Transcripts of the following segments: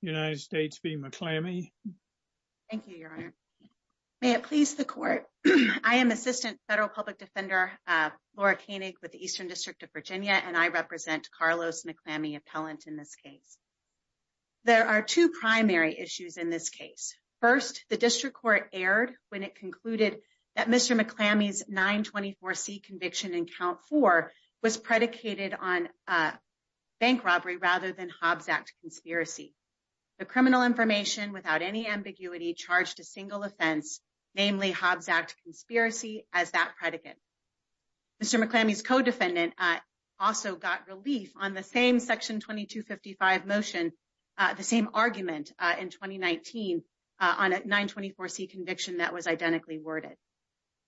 United States v. McClammy. Thank you, Your Honor. May it please the Court. I am Assistant Federal Public Defender Laura Koenig with the Eastern District of Virginia, and I represent Carlos McClammy appellant in this case. There are two primary issues in this case. First, the District Court erred when it concluded that Mr. McClammy's 924C conviction in Count 4 was predicated on bank robbery rather than Hobbs Act conspiracy. The criminal information without any ambiguity charged a single offense, namely Hobbs Act conspiracy, as that predicate. Mr. McClammy's co-defendant also got relief on the same Section 2255 motion, the same argument in 2019 on a 924C conviction that was identically worded.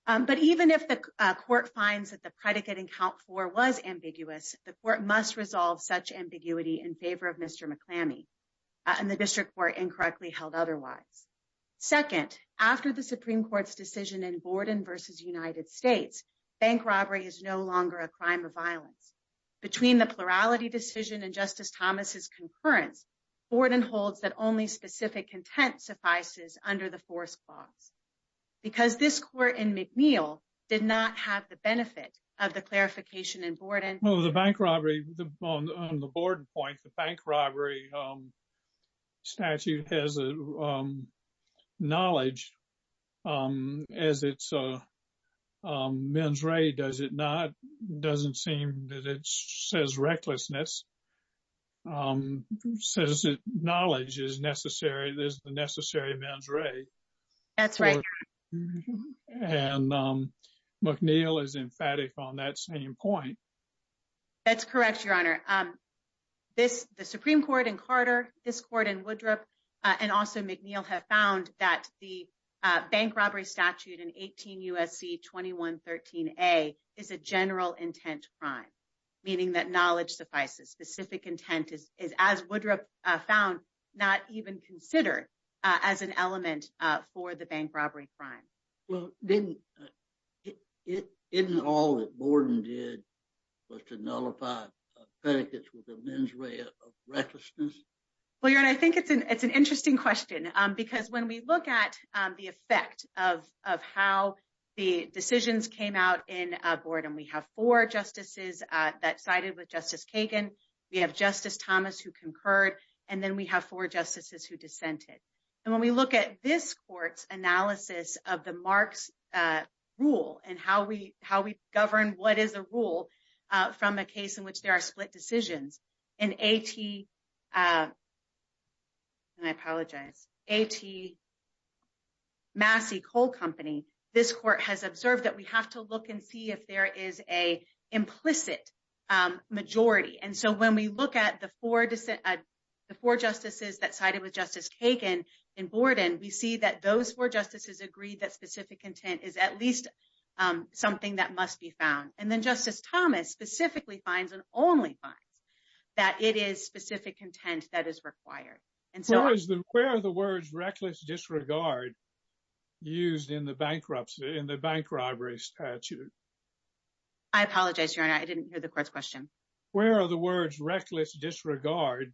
But even if the Court finds that the predicate in Count 4 was ambiguous, the Court must resolve such ambiguity in favor of Mr. McClammy, and the District Court incorrectly held otherwise. Second, after the Supreme Court's decision in Borden v. United States, bank robbery is no longer a crime of violence. Between the plurality decision and Justice Thomas's concurrence, Borden holds that only specific intent suffices under the statute. The District Court in McNeil did not have the benefit of the clarification in Borden. Well, the bank robbery, on the Borden point, the bank robbery statute has a knowledge as it's a mens rea, does it not? Doesn't seem that it says recklessness. Says that knowledge is necessary, there's the necessary mens rea. That's right. And McNeil is emphatic on that same point. That's correct, Your Honor. The Supreme Court in Carter, this Court in Woodruff, and also McNeil have found that the bank robbery statute in 18 U.S.C. 2113a is a general intent crime, meaning that knowledge suffices. Specific intent is, as Woodruff found, not even considered as an element for the bank robbery crime. Well, didn't all that Borden did was to nullify predicates with a mens rea of recklessness? Well, Your Honor, I think it's an interesting question because when we look at the effect of how the decisions came out in Borden, we have four justices that sided with Justice Kagan, we have Justice Thomas who concurred, and then we have four justices who dissented. And when we look at this Court's analysis of the Marks rule and how we govern what is a rule from a case in which there are split decisions in A.T. Massey Coal Company, this Court has observed that we have to look and see if there is an implicit majority. And so when we look at the four justices that sided with Justice Kagan in Borden, we see that those four justices agreed that specific intent is at least something that must be found. And then Justice Thomas specifically finds and only finds that it is specific intent that is required. Where are the words reckless disregard used in the bank robbery statute? I apologize, Your Honor, I didn't hear the Court's question. Where are the words reckless disregard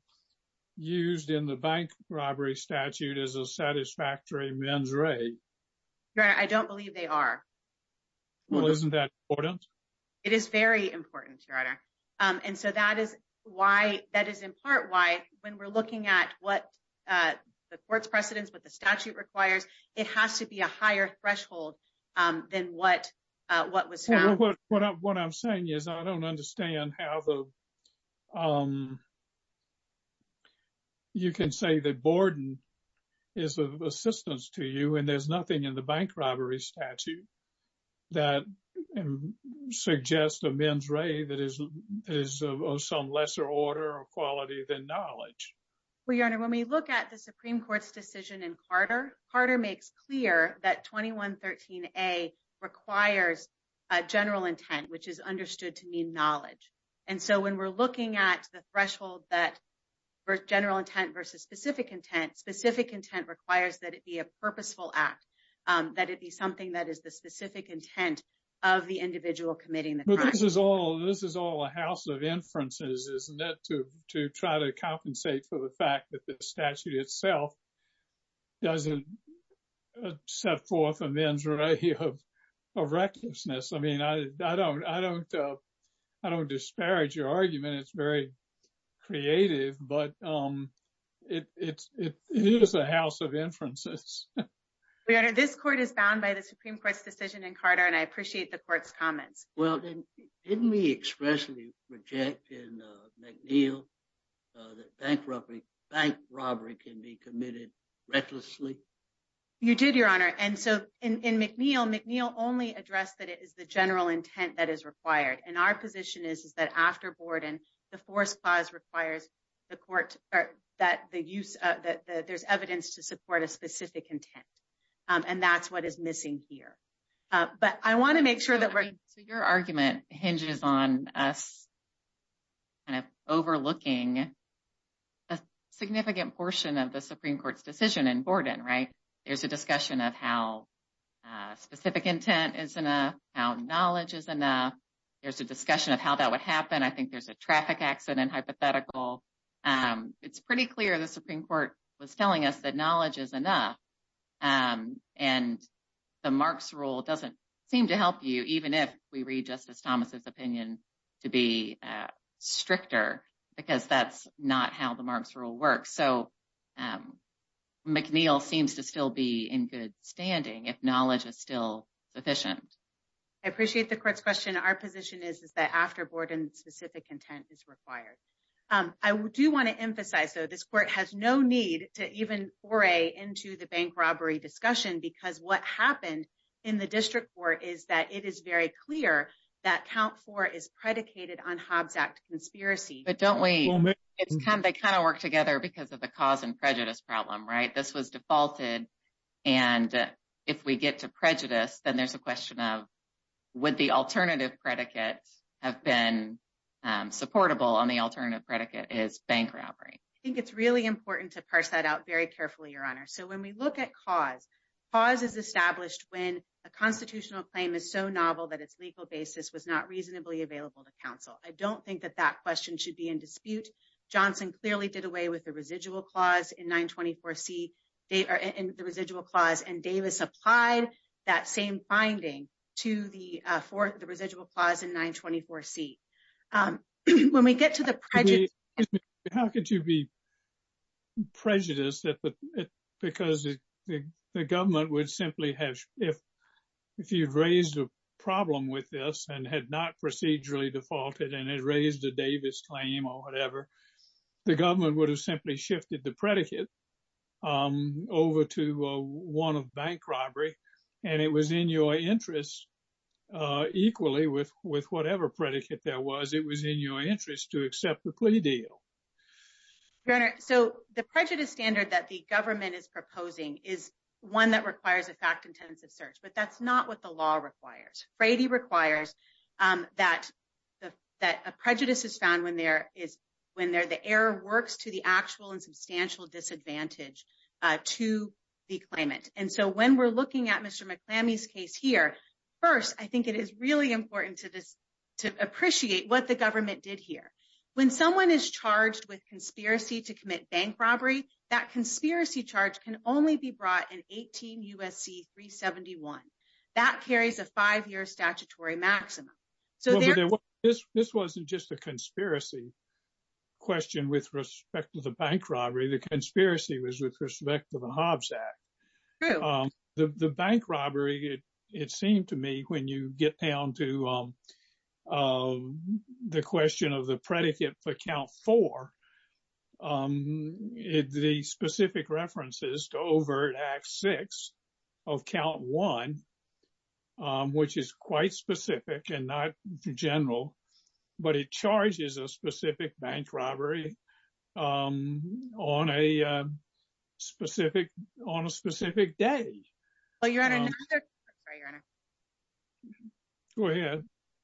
used in the bank robbery statute as a satisfactory mens rea? Your Honor, I don't believe they are. Well, isn't that important? It is very important, Your Honor. And so that is why, that is in part why when we're looking at what the Court's precedence, what the statute requires, it has to be a higher threshold than what was found. Well, what I'm saying is I don't understand how you can say that Borden is of assistance to you and there's nothing in the bank robbery statute that suggests a mens rea that is of some lesser order or quality than knowledge. Well, Your Honor, when we look at the Supreme Court's decision in Carter, Carter makes clear that 2113A requires a general intent, which is understood to mean knowledge. And so when we're looking at the threshold that for general intent versus specific intent, specific intent requires that it be a purposeful act, that it be something that is the specific intent of the individual committing the crime. But this is all a house of inferences, isn't it, to try to compensate for the fact that the statute itself doesn't set forth a mens rea of recklessness. I mean, I don't disparage your argument. It's very creative, but it is a house of inferences. Well, Your Honor, this Court is bound by the Supreme Court's decision in Carter, and I appreciate the Court's comments. Well, didn't we expressly reject in McNeil that bank robbery can be committed recklessly? You did, Your Honor. And so in McNeil, McNeil only addressed that it is the general intent that is required. And our position is that after Borden, the force clause requires the Court that there's evidence to support a specific intent. And that's what is missing here. But I want to make sure that we're... So your argument hinges on us kind of overlooking a significant portion of the Supreme Court's decision in Borden, right? There's a discussion of how specific intent is enough, how knowledge is enough. There's a discussion of how that would happen. I think there's a traffic accident hypothetical. It's pretty clear the Supreme Court was telling us that knowledge is enough. And the Marks Rule doesn't seem to help you, even if we read Justice Thomas's opinion to be stricter, because that's not how the Marks Rule works. So McNeil seems to still be in good standing if knowledge is still sufficient. I appreciate the Court's question. Our position is that after Borden, specific intent is required. I do want to emphasize, though, this Court has no need to even foray into the bank robbery discussion, because what happened in the District Court is that it is very clear that count four is predicated on Hobbs Act conspiracy. But don't we... They kind of work together because of the cause and prejudice problem, right? This was defaulted. And if we get to prejudice, then there's a question of, would the alternative predicate have been supportable on the alternative predicate is bank robbery? I think it's really important to parse that out very carefully, Your Honor. So when we look at cause, cause is established when a constitutional claim is so novel that its legal basis was not reasonably available to counsel. I don't think that that question should be in dispute. Johnson clearly did away with the residual clause in 924C, the residual clause, and Davis applied that same finding to the residual clause in 924C. When we get to the prejudice... How could you be prejudiced? Because the government would simply have... If you've raised a problem with this and had not procedurally defaulted and had raised a Davis claim or whatever, the government would have simply shifted the predicate over to one of bank robbery, and it was in your interest, equally with whatever predicate that was, it was in your interest to accept the plea deal. Your Honor, so the prejudice standard that the government is proposing is one that requires a fact-intensive search, but that's not what the law requires. Frady requires that a prejudice is found when the error works to the actual and substantial disadvantage to the claimant. And so when we're looking at Mr. McClamy's case here, first, I think it is really important to appreciate what the government did here. When someone is charged with conspiracy to commit bank robbery, that conspiracy charge can only be brought in 18 U.S.C. 371. That carries a five-year statutory maximum. So there... Just a conspiracy question with respect to the bank robbery, the conspiracy was with respect to the Hobbs Act. The bank robbery, it seemed to me, when you get down to the question of the predicate for Count 4, the specific references to overt Act 6 of Count 1, which is quite specific and not general, but it charges a specific bank robbery on a specific day. Well, Your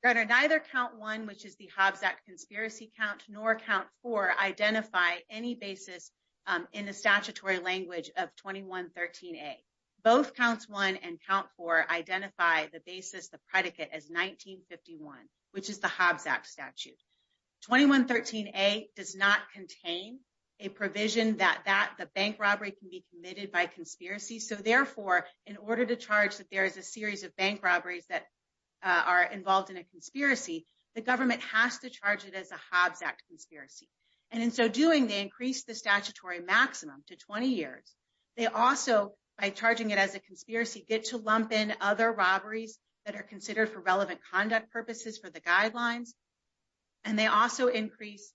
Honor, neither Count 1, which is the Hobbs Act conspiracy count, nor Count 4 identify any basis in the statutory language of 2113A. Both Counts 1 and Count 4 identify the predicate as 1951, which is the Hobbs Act statute. 2113A does not contain a provision that the bank robbery can be committed by conspiracy. So therefore, in order to charge that there is a series of bank robberies that are involved in a conspiracy, the government has to charge it as a Hobbs Act conspiracy. And in so doing, they increase the statutory maximum to 20 years. They also, by charging it as a conspiracy, get to lump in other robberies that are considered for relevant conduct purposes for the guidelines. And they also increase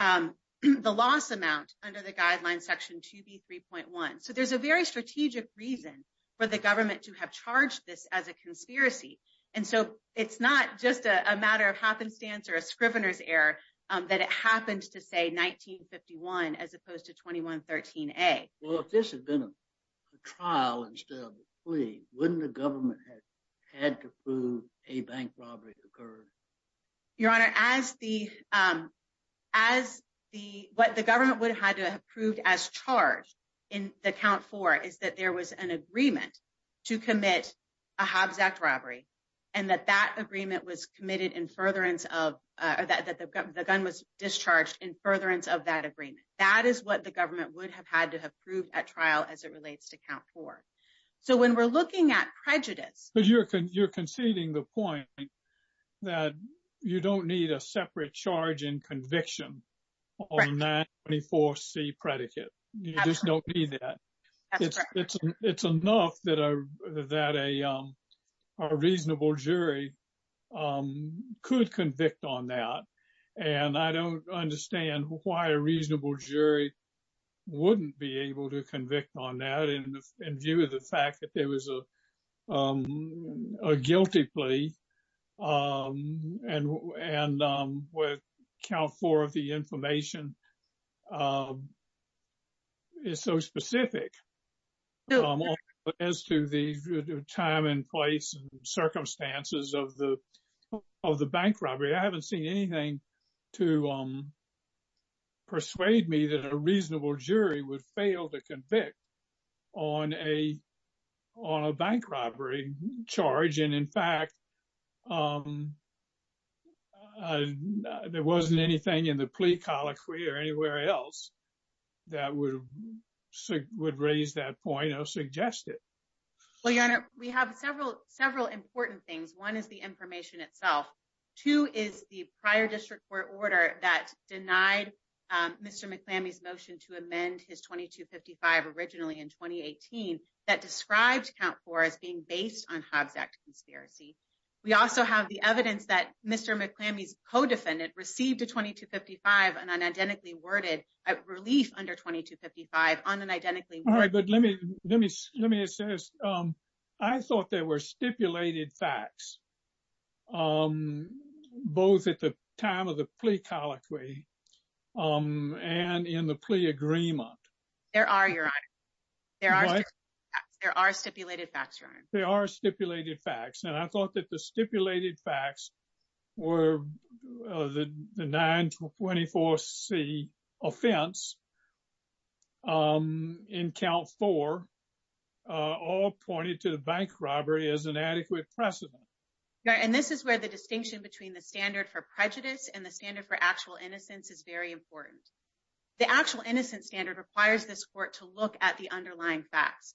the loss amount under the guidelines section 2B3.1. So there's a very strategic reason for the government to have charged this as a conspiracy. And so it's not just a matter of happenstance or a scrivener's error that it happens to say 1951 as opposed to 2113A. Well, if this had been a trial instead of a plea, wouldn't the government have had to prove a bank robbery occurred? Your Honor, what the government would have had to have proved as charged in the Count 4 is that there was an agreement to commit a Hobbs Act robbery and that the gun was discharged in furtherance of that agreement. That is what the government would have had to have proved at trial as it relates to Count 4. So when we're looking at prejudice- But you're conceding the point that you don't need a separate charge and conviction on that 24C predicate. You just don't need that. It's enough that a reasonable jury could convict on that. And I don't understand why a reasonable jury wouldn't be able to convict on that in view of the fact that there was a specific as to the time and place and circumstances of the bank robbery. I haven't seen anything to persuade me that a reasonable jury would fail to convict on a bank robbery charge. And in fact, there wasn't anything in the plea colloquy or anywhere else that would raise that point or suggest it. Well, Your Honor, we have several important things. One is the information itself. Two is the prior district court order that denied Mr. McClamey's motion to amend his 2255 originally in 2018 that described Count 4 as being based on Hobbs Act conspiracy. We also have the evidence that Mr. McClamey's co-defendant received a 2255, an unidentically worded relief under 2255 on an identically- All right, but let me assess. I thought there were stipulated facts both at the time of the plea colloquy and in the plea agreement. There are, Your Honor. There are stipulated facts, Your Honor. There are stipulated facts. And I thought that the stipulated facts were the 924C offense in Count 4 all pointed to the bank robbery as an adequate precedent. And this is where the distinction between the standard for prejudice and the standard for this court to look at the underlying facts.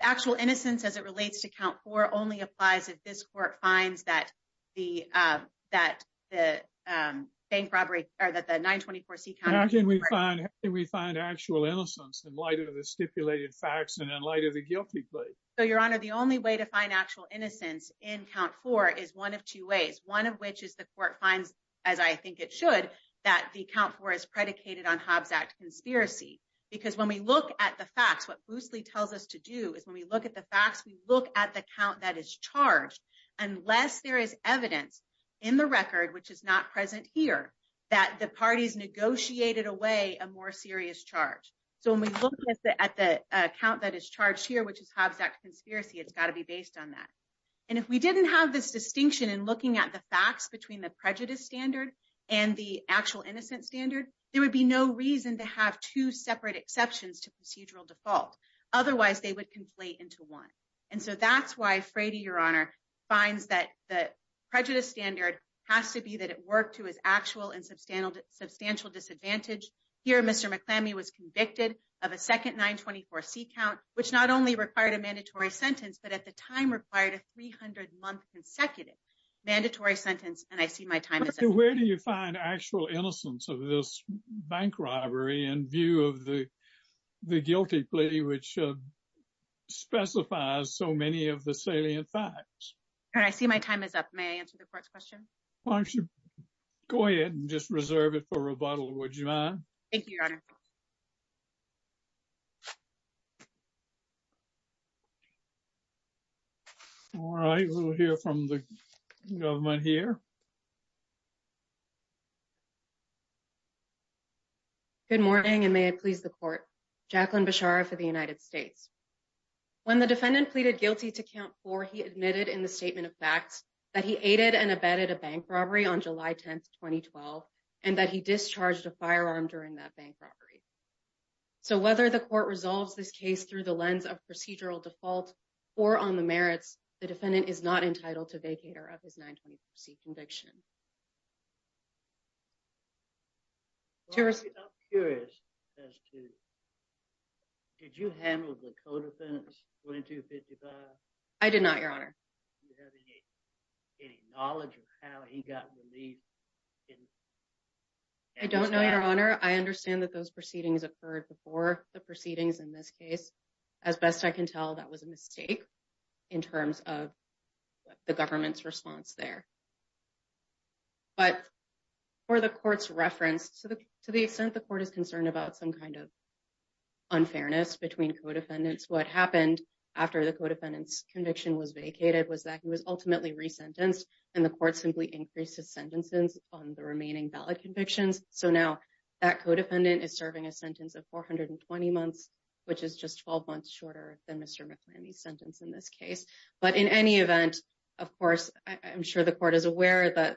Actual innocence as it relates to Count 4 only applies if this court finds that the bank robbery or that the 924C- How can we find actual innocence in light of the stipulated facts and in light of the guilty plea? So, Your Honor, the only way to find actual innocence in Count 4 is one of two ways, one of which is the court finds, as I think it should, that the Count 4 is predicated on because when we look at the facts, what Boosley tells us to do is when we look at the facts, we look at the count that is charged. Unless there is evidence in the record, which is not present here, that the parties negotiated away a more serious charge. So, when we look at the count that is charged here, which is Hobbs Act conspiracy, it's got to be based on that. And if we didn't have this distinction in looking at the facts between the prejudice standard and the actual innocence standard, there would be no reason to have two separate exceptions to procedural default. Otherwise, they would conflate into one. And so that's why Frady, Your Honor, finds that the prejudice standard has to be that it worked to his actual and substantial disadvantage. Here, Mr. McClammy was convicted of a second 924C count, which not only required a mandatory sentence, but at the time required a 300-month consecutive mandatory sentence. And I see my time is up. Where do you find actual innocence of this bank robbery in view of the guilty plea, which specifies so many of the salient facts? All right. I see my time is up. May I answer the court's question? Why don't you go ahead and just reserve it for rebuttal, would you mind? Thank you, Your Honor. All right. We'll hear from the government here. Good morning, and may it please the court. Jacqueline Beshara for the United States. When the defendant pleaded guilty to count four, he admitted in the statement of facts that he aided and abetted a bank robbery on July 10th, 2012, and that he discharged a firearm during that bank robbery. So whether the court resolves this case through the lens of procedural default or on the merits, the defendant is not entitled to vacate or have his 924C conviction. Well, I'm curious as to, did you handle the co-defense 2255? I did not, Your Honor. Do you have any knowledge of how he got relieved? I don't know, Your Honor. I understand that those proceedings occurred before the proceedings in this case. As best I can tell, that was a mistake in terms of the government's response there. But for the court's reference, to the extent the court is concerned about some kind of unfairness between co-defendants, what happened after the co-defendant's conviction was vacated was that he was ultimately resentenced, and the court simply increased his sentences on the remaining valid convictions. So now that co-defendant is serving a sentence of 420 months, which is just 12 months shorter than Mr. McClany's sentence in this case. But in any event, of course, I'm sure the court is aware that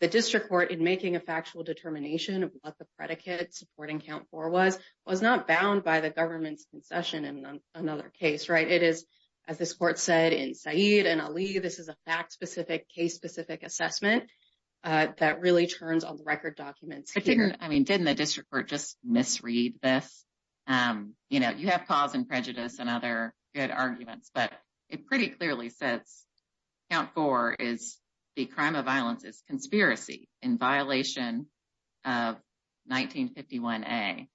the district court, in making a factual determination of what the predicate supporting count 4 was, was not bound by the government's concession in another case, right? It is, as this court said, in Saeed and Ali, this is a fact-specific, case-specific assessment that really turns on the record documents here. I mean, didn't the district court just misread this? You know, you have cause and prejudice and other good arguments, but it pretty clearly says count 4 is the crime of violence is conspiracy in violation of 1951A.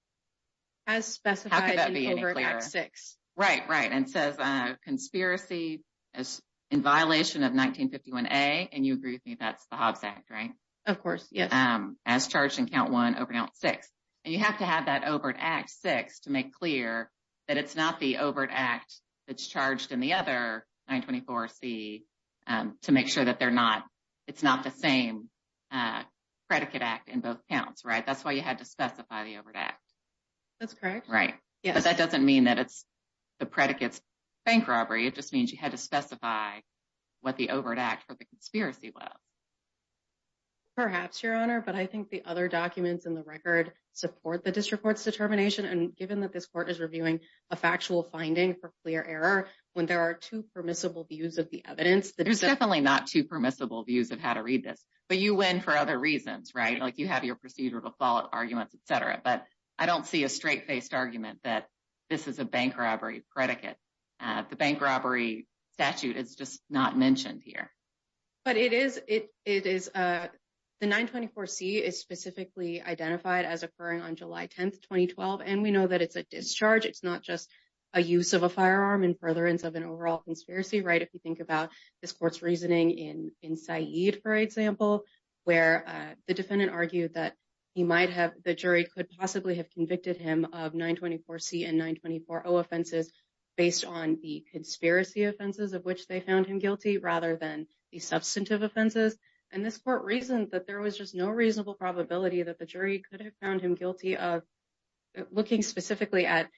As specified in Overdraft 6. Right, right. And says conspiracy in violation of 1951A, and you agree with me that's the Hobbs Act, right? Of course, yes. As charged in count 1, Overdraft 6. And you have to have that Overdraft 6 to make clear that it's not the Overdraft that's charged in the other 924C to make sure that they're not, it's not the same predicate act in both counts, right? That's why you had to specify the Overdraft. That's correct. Right. Because that doesn't mean that it's the predicate's bank robbery, it just means you had to specify what the Overdraft for the conspiracy was. Perhaps, Your Honor, but I think the other documents in the record support the district court's determination. And given that this court is reviewing a factual finding for clear error, when there are two permissible views of the evidence that- There's definitely not two permissible views of how to read this, but you win for other reasons, right? Like you have your procedural fault arguments, et cetera. But I don't see a straight faced argument that this is a bank robbery predicate. The bank robbery statute is just not mentioned here. But it is, the 924C is specifically identified as occurring on July 10th, 2012. And we know that it's a discharge, it's not just a use of a firearm in furtherance of an overall conspiracy, right? If you think about this court's reasoning in Said, for example, where the defendant argued that he might have, the jury could possibly have convicted him of 924C and 924O offenses based on the conspiracy offenses of which they found him guilty, rather than the substantive offenses. And this court reasoned that there was just no reasonable probability that the jury could have found him guilty of looking specifically at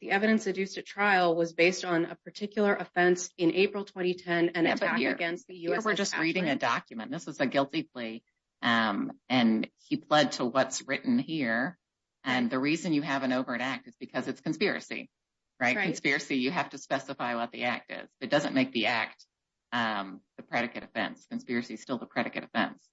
the evidence adduced at trial was based on a particular offense in April, 2010 and an attack against the U.S. We're just reading a document. This is a guilty plea. And he pled to what's written here. And the reason you have an overt act is because it's conspiracy, right? Conspiracy, you have to specify what the act is. It doesn't make the act the predicate offense. Conspiracy is still the predicate offense.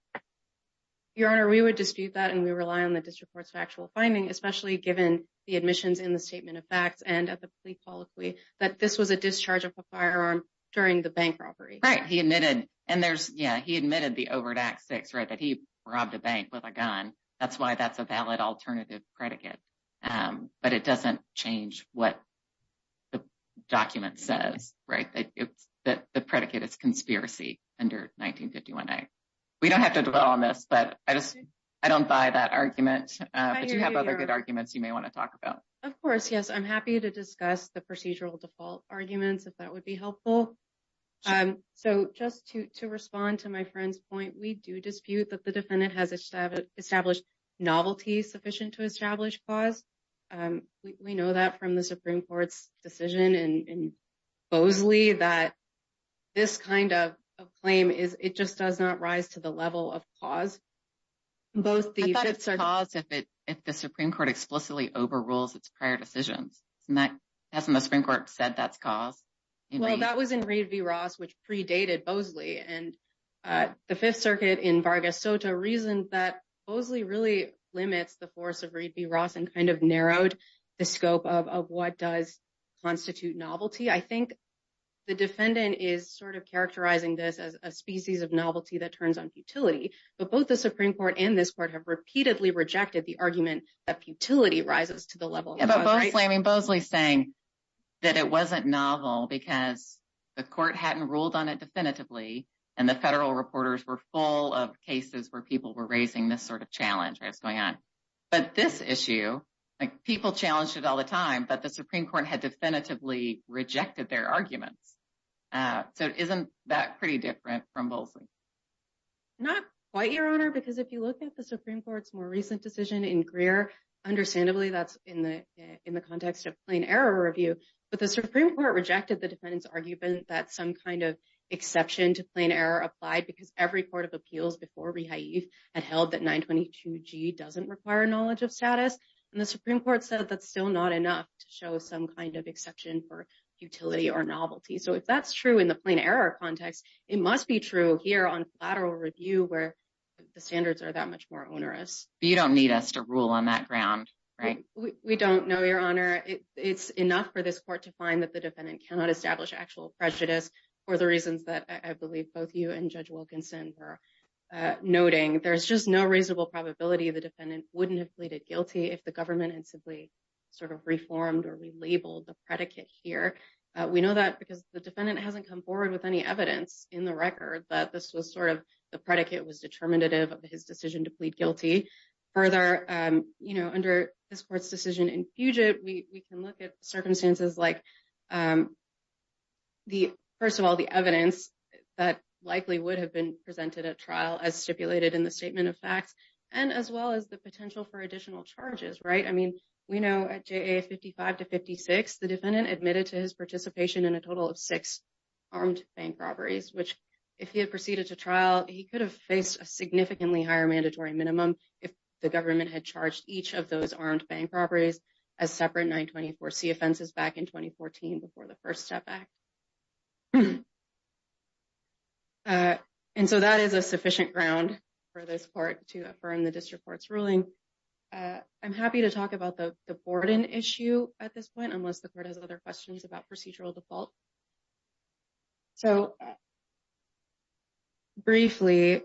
Your Honor, we would dispute that and we rely on the district court's factual finding, especially given the admissions in the statement of facts and at the plea policy, that this was a discharge of a firearm during the bank robbery. Right. He admitted, and there's, yeah, he admitted the overt act six, right, that he robbed a bank with a gun. That's why that's a valid alternative predicate. But it doesn't change what the document says, right? The predicate is conspiracy under 1951A. We don't have to dwell on this, but I just, I don't buy that argument. But you have other good arguments you may want to talk about. Of course, yes. I'm happy to discuss the procedural default arguments if that would be helpful. So just to respond to my friend's point, we do dispute that the defendant has established novelty sufficient to establish cause. We know that from the Supreme Court's decision in Bosley that this kind of claim is, it just does not rise to the level of cause. I thought it's cause if the Supreme Court explicitly overrules its prior decisions. Hasn't the Supreme Court said that's cause? Well, that was in Reed v. Ross, which predated Bosley. And the Fifth Circuit in Vargas Soto reasoned that Bosley really limits the force of Reed v. Ross and kind of narrowed the scope of what does constitute novelty. I think the defendant is sort of characterizing this as a species of novelty that turns on futility. But both the Supreme Court and this court have repeatedly rejected the argument that futility rises to the level of cause, right? Yeah, but Bosley's saying that it wasn't novel because the court hadn't ruled on it definitively, and the federal reporters were full of cases where people were raising this sort of challenge that's going on. But this issue, like people challenged it all the time, but the Supreme Court had definitively rejected their arguments. So isn't that pretty different from Bosley? Not quite, Your Honor, because if you look at the Supreme Court's more recent decision in Greer, understandably that's in the context of plain error review. But the Supreme Court rejected the defendant's argument that some kind of exception to plain error applied because every court of appeals before rehave had held that 922G doesn't require knowledge of status. And the Supreme Court said that's still not enough to show some kind of exception for futility or novelty. So if that's true in the plain error context, it must be true here on lateral review where the standards are that much more onerous. You don't need us to rule on that ground, right? We don't know, Your Honor. It's enough for this court to find that the defendant cannot establish actual prejudice for the reasons that I believe both you and Judge Wilkinson were noting. There's just no reasonable probability the defendant wouldn't have pleaded guilty if the government had simply sort of reformed or relabeled the predicate here. We know that because the defendant hasn't come forward with any evidence in the predicate was determinative of his decision to plead guilty. Further, under this court's decision in Puget, we can look at circumstances like, first of all, the evidence that likely would have been presented at trial as stipulated in the statement of facts, and as well as the potential for additional charges, right? I mean, we know at JA 55 to 56, the defendant admitted to his he could have faced a significantly higher mandatory minimum if the government had charged each of those armed bank properties as separate 924C offenses back in 2014 before the First Step Act. And so that is a sufficient ground for this court to affirm the district court's ruling. I'm happy to talk about the Borden issue at this point, unless the court has other questions about procedural default. So briefly,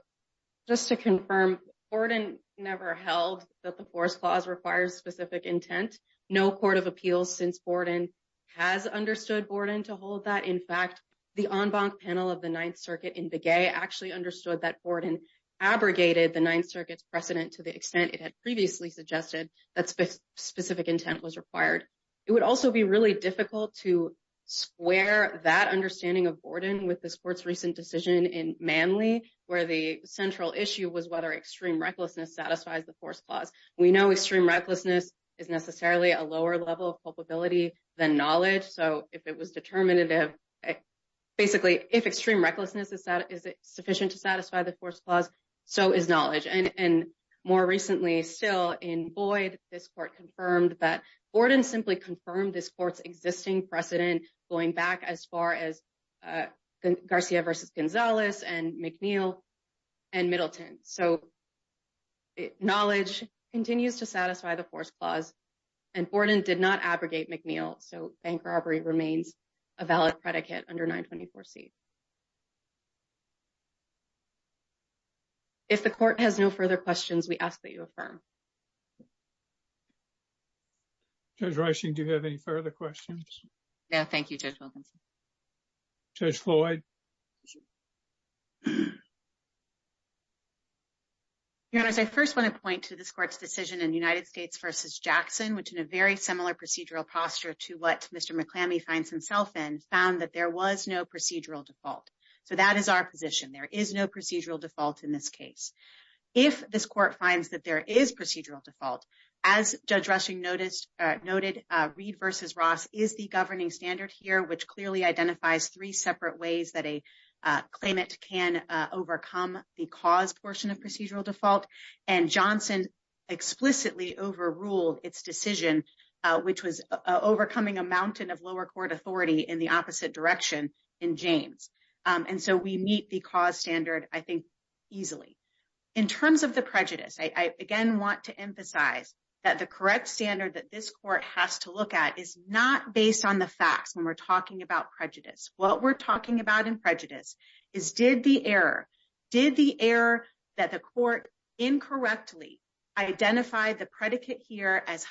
just to confirm, Borden never held that the Force Clause requires specific intent. No court of appeals since Borden has understood Borden to hold that. In fact, the en banc panel of the Ninth Circuit in Puget actually understood that Borden abrogated the Ninth Circuit's precedent to the extent it had previously suggested that specific intent was required. It would also be really difficult to square that understanding of Borden with this court's recent decision in Manley, where the central issue was whether extreme recklessness satisfies the Force Clause. We know extreme recklessness is necessarily a lower level of culpability than knowledge. So if it was determinative, basically, if extreme recklessness is sufficient to satisfy the Force Clause, so is knowledge. And more recently still in Boyd, this court confirmed that Borden simply confirmed this court's existing precedent going back as far as Garcia versus Gonzalez and McNeil and Middleton. So knowledge continues to satisfy the Force Clause and Borden did not abrogate McNeil. So bank robbery remains a valid predicate under 924C. If the court has no further questions, we ask that you affirm. Judge Reising, do you have any further questions? No, thank you, Judge Wilkinson. Judge Floyd? Your Honor, I first want to point to this court's decision in United States versus Jackson, which in a very similar procedural posture to what Mr. McClammy finds himself in, found that there was no procedural default. So that is our position. There is no procedural default in this case. As Judge Reising noted, Reed versus Ross is the governing standard here, which clearly identifies three separate ways that a claimant can overcome the cause portion of procedural default. And Johnson explicitly overruled its decision, which was overcoming a mountain of lower court authority in the opposite direction in James. And so we meet the cause standard, I think, easily. In terms of the prejudice, I again want to emphasize that the correct standard that this court has to look at is not based on the facts when we're talking about prejudice. What we're talking about in prejudice is did the error, did the error that the court incorrectly identified the predicate here as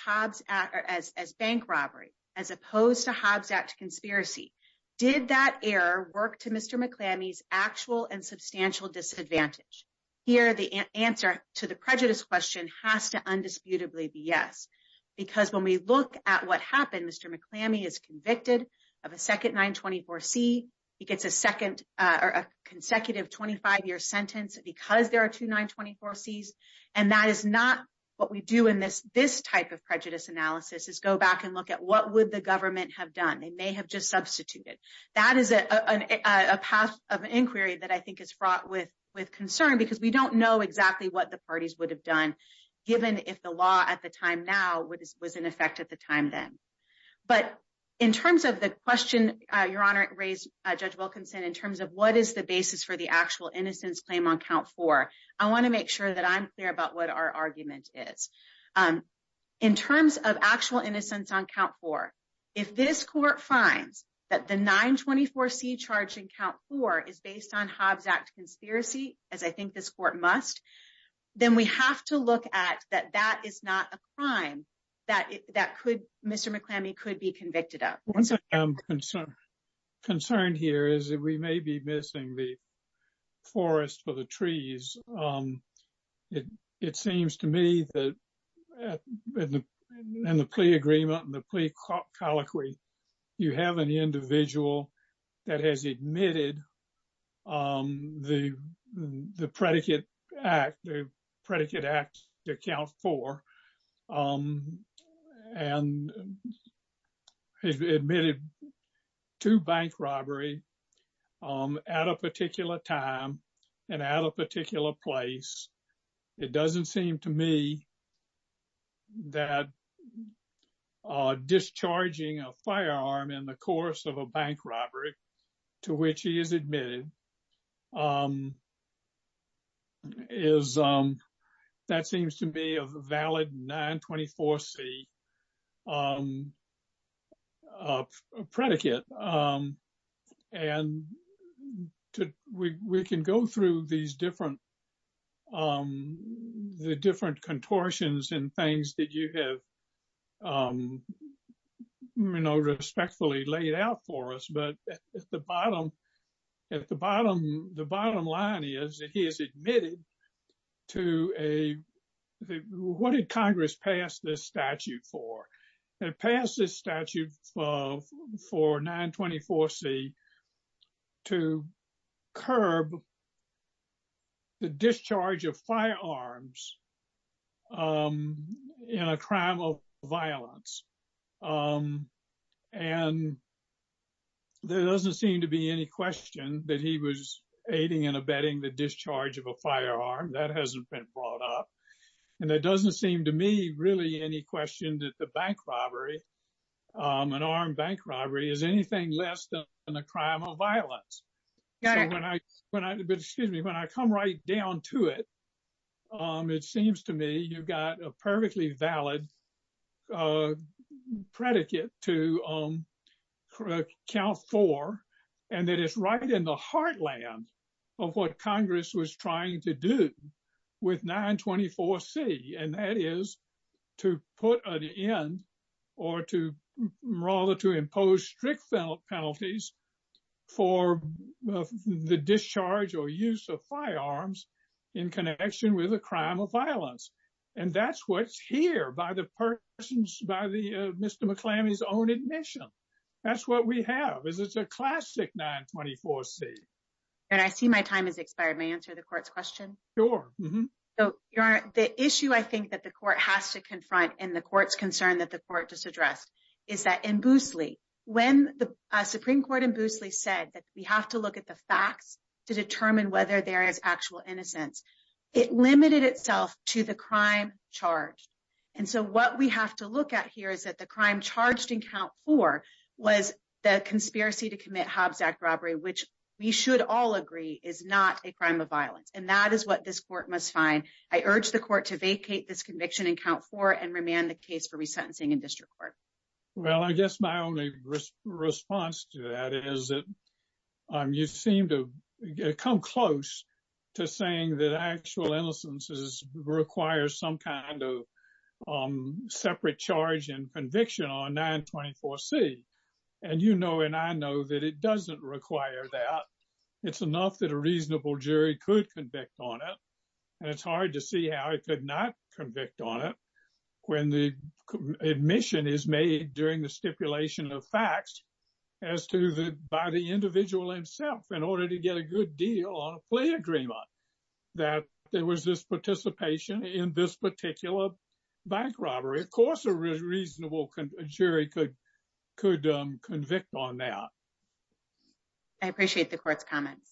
bank robbery as opposed to Hobbs Act conspiracy, did that error work Mr. McClammy's actual and substantial disadvantage? Here, the answer to the prejudice question has to undisputably be yes. Because when we look at what happened, Mr. McClammy is convicted of a second 924C. He gets a second or a consecutive 25-year sentence because there are two 924Cs. And that is not what we do in this type of prejudice analysis, is go back and look at what would the government have done? They may have just substituted. That is a path of inquiry that I think is fraught with concern because we don't know exactly what the parties would have done given if the law at the time now was in effect at the time then. But in terms of the question, Your Honor, raised Judge Wilkinson in terms of what is the basis for the actual innocence claim on count four, I want to make sure that I'm clear about what our argument is. In terms of actual innocence on count four, if this court finds that the 924C charge in count four is based on Hobbs Act conspiracy, as I think this court must, then we have to look at that that is not a crime that Mr. McClammy could be convicted of. One thing I'm concerned here is that we may be missing the forest for the trees. It seems to me that in the plea agreement and the plea colloquy, you have an individual that has admitted the predicate act, the predicate act to count four, and has admitted to bank robbery at a particular time and at a particular place. It doesn't seem to me that discharging a firearm in the course of a bank robbery to which he is admitted is, that seems to be a valid 924C predicate. And we can go through these different contortions and things that you have respectfully laid out for us. But at the bottom, the bottom line is that he has admitted to a, what did Congress pass this statute for? They passed this statute for 924C to curb the discharge of firearms in a crime of violence. And there doesn't seem to be any question that he was aiding and abetting the discharge of a firearm that hasn't been brought up. And it doesn't seem to me really any question that the bank robbery, an armed bank robbery is anything less than a crime of violence. So when I, excuse me, when I come right down to it, it seems to me you've got a perfectly valid predicate to count four, and that is right in the heartland of what Congress was trying to do with 924C. And that is to put an end or to rather to impose strict penalties for the discharge or use of firearms in connection with a crime of violence. And that's what's here by the persons, by Mr. McClammy's own admission. That's what we have, is it's a classic 924C. And I see my time has expired. May I answer the court's question? Sure. So Your Honor, the issue I think that the court has to confront and the court's concern that the court just addressed is that in Boosley, when the Supreme Court in Boosley said that we have to look at the facts to determine whether there is actual innocence, it limited itself to the crime charged. And so what we have to look at here is that the crime charged in count four was the conspiracy to commit Hobbs Act robbery, which we should all agree is not a crime of violence. And that is what this court must find. I urge the court to vacate this conviction in district court. Well, I guess my only response to that is that you seem to come close to saying that actual innocence requires some kind of separate charge and conviction on 924C. And you know, and I know that it doesn't require that. It's enough that a reasonable jury could convict on it. And it's hard to see how it could not convict on it when the admission is made during the stipulation of facts as to the by the individual himself in order to get a good deal on a plea agreement that there was this participation in this particular bank robbery. Of course, a reasonable jury could convict on that. I appreciate the court's comments.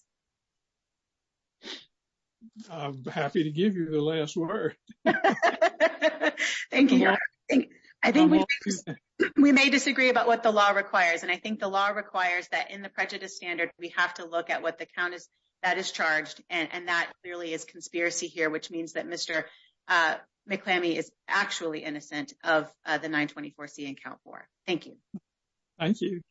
Happy to give you the last word. Thank you. I think we may disagree about what the law requires. And I think the law requires that in the prejudice standard, we have to look at what the count is that is charged. And that clearly is conspiracy here, which means that Mr. McClamey is actually innocent of the 924C in count four. Thank you. Thank you.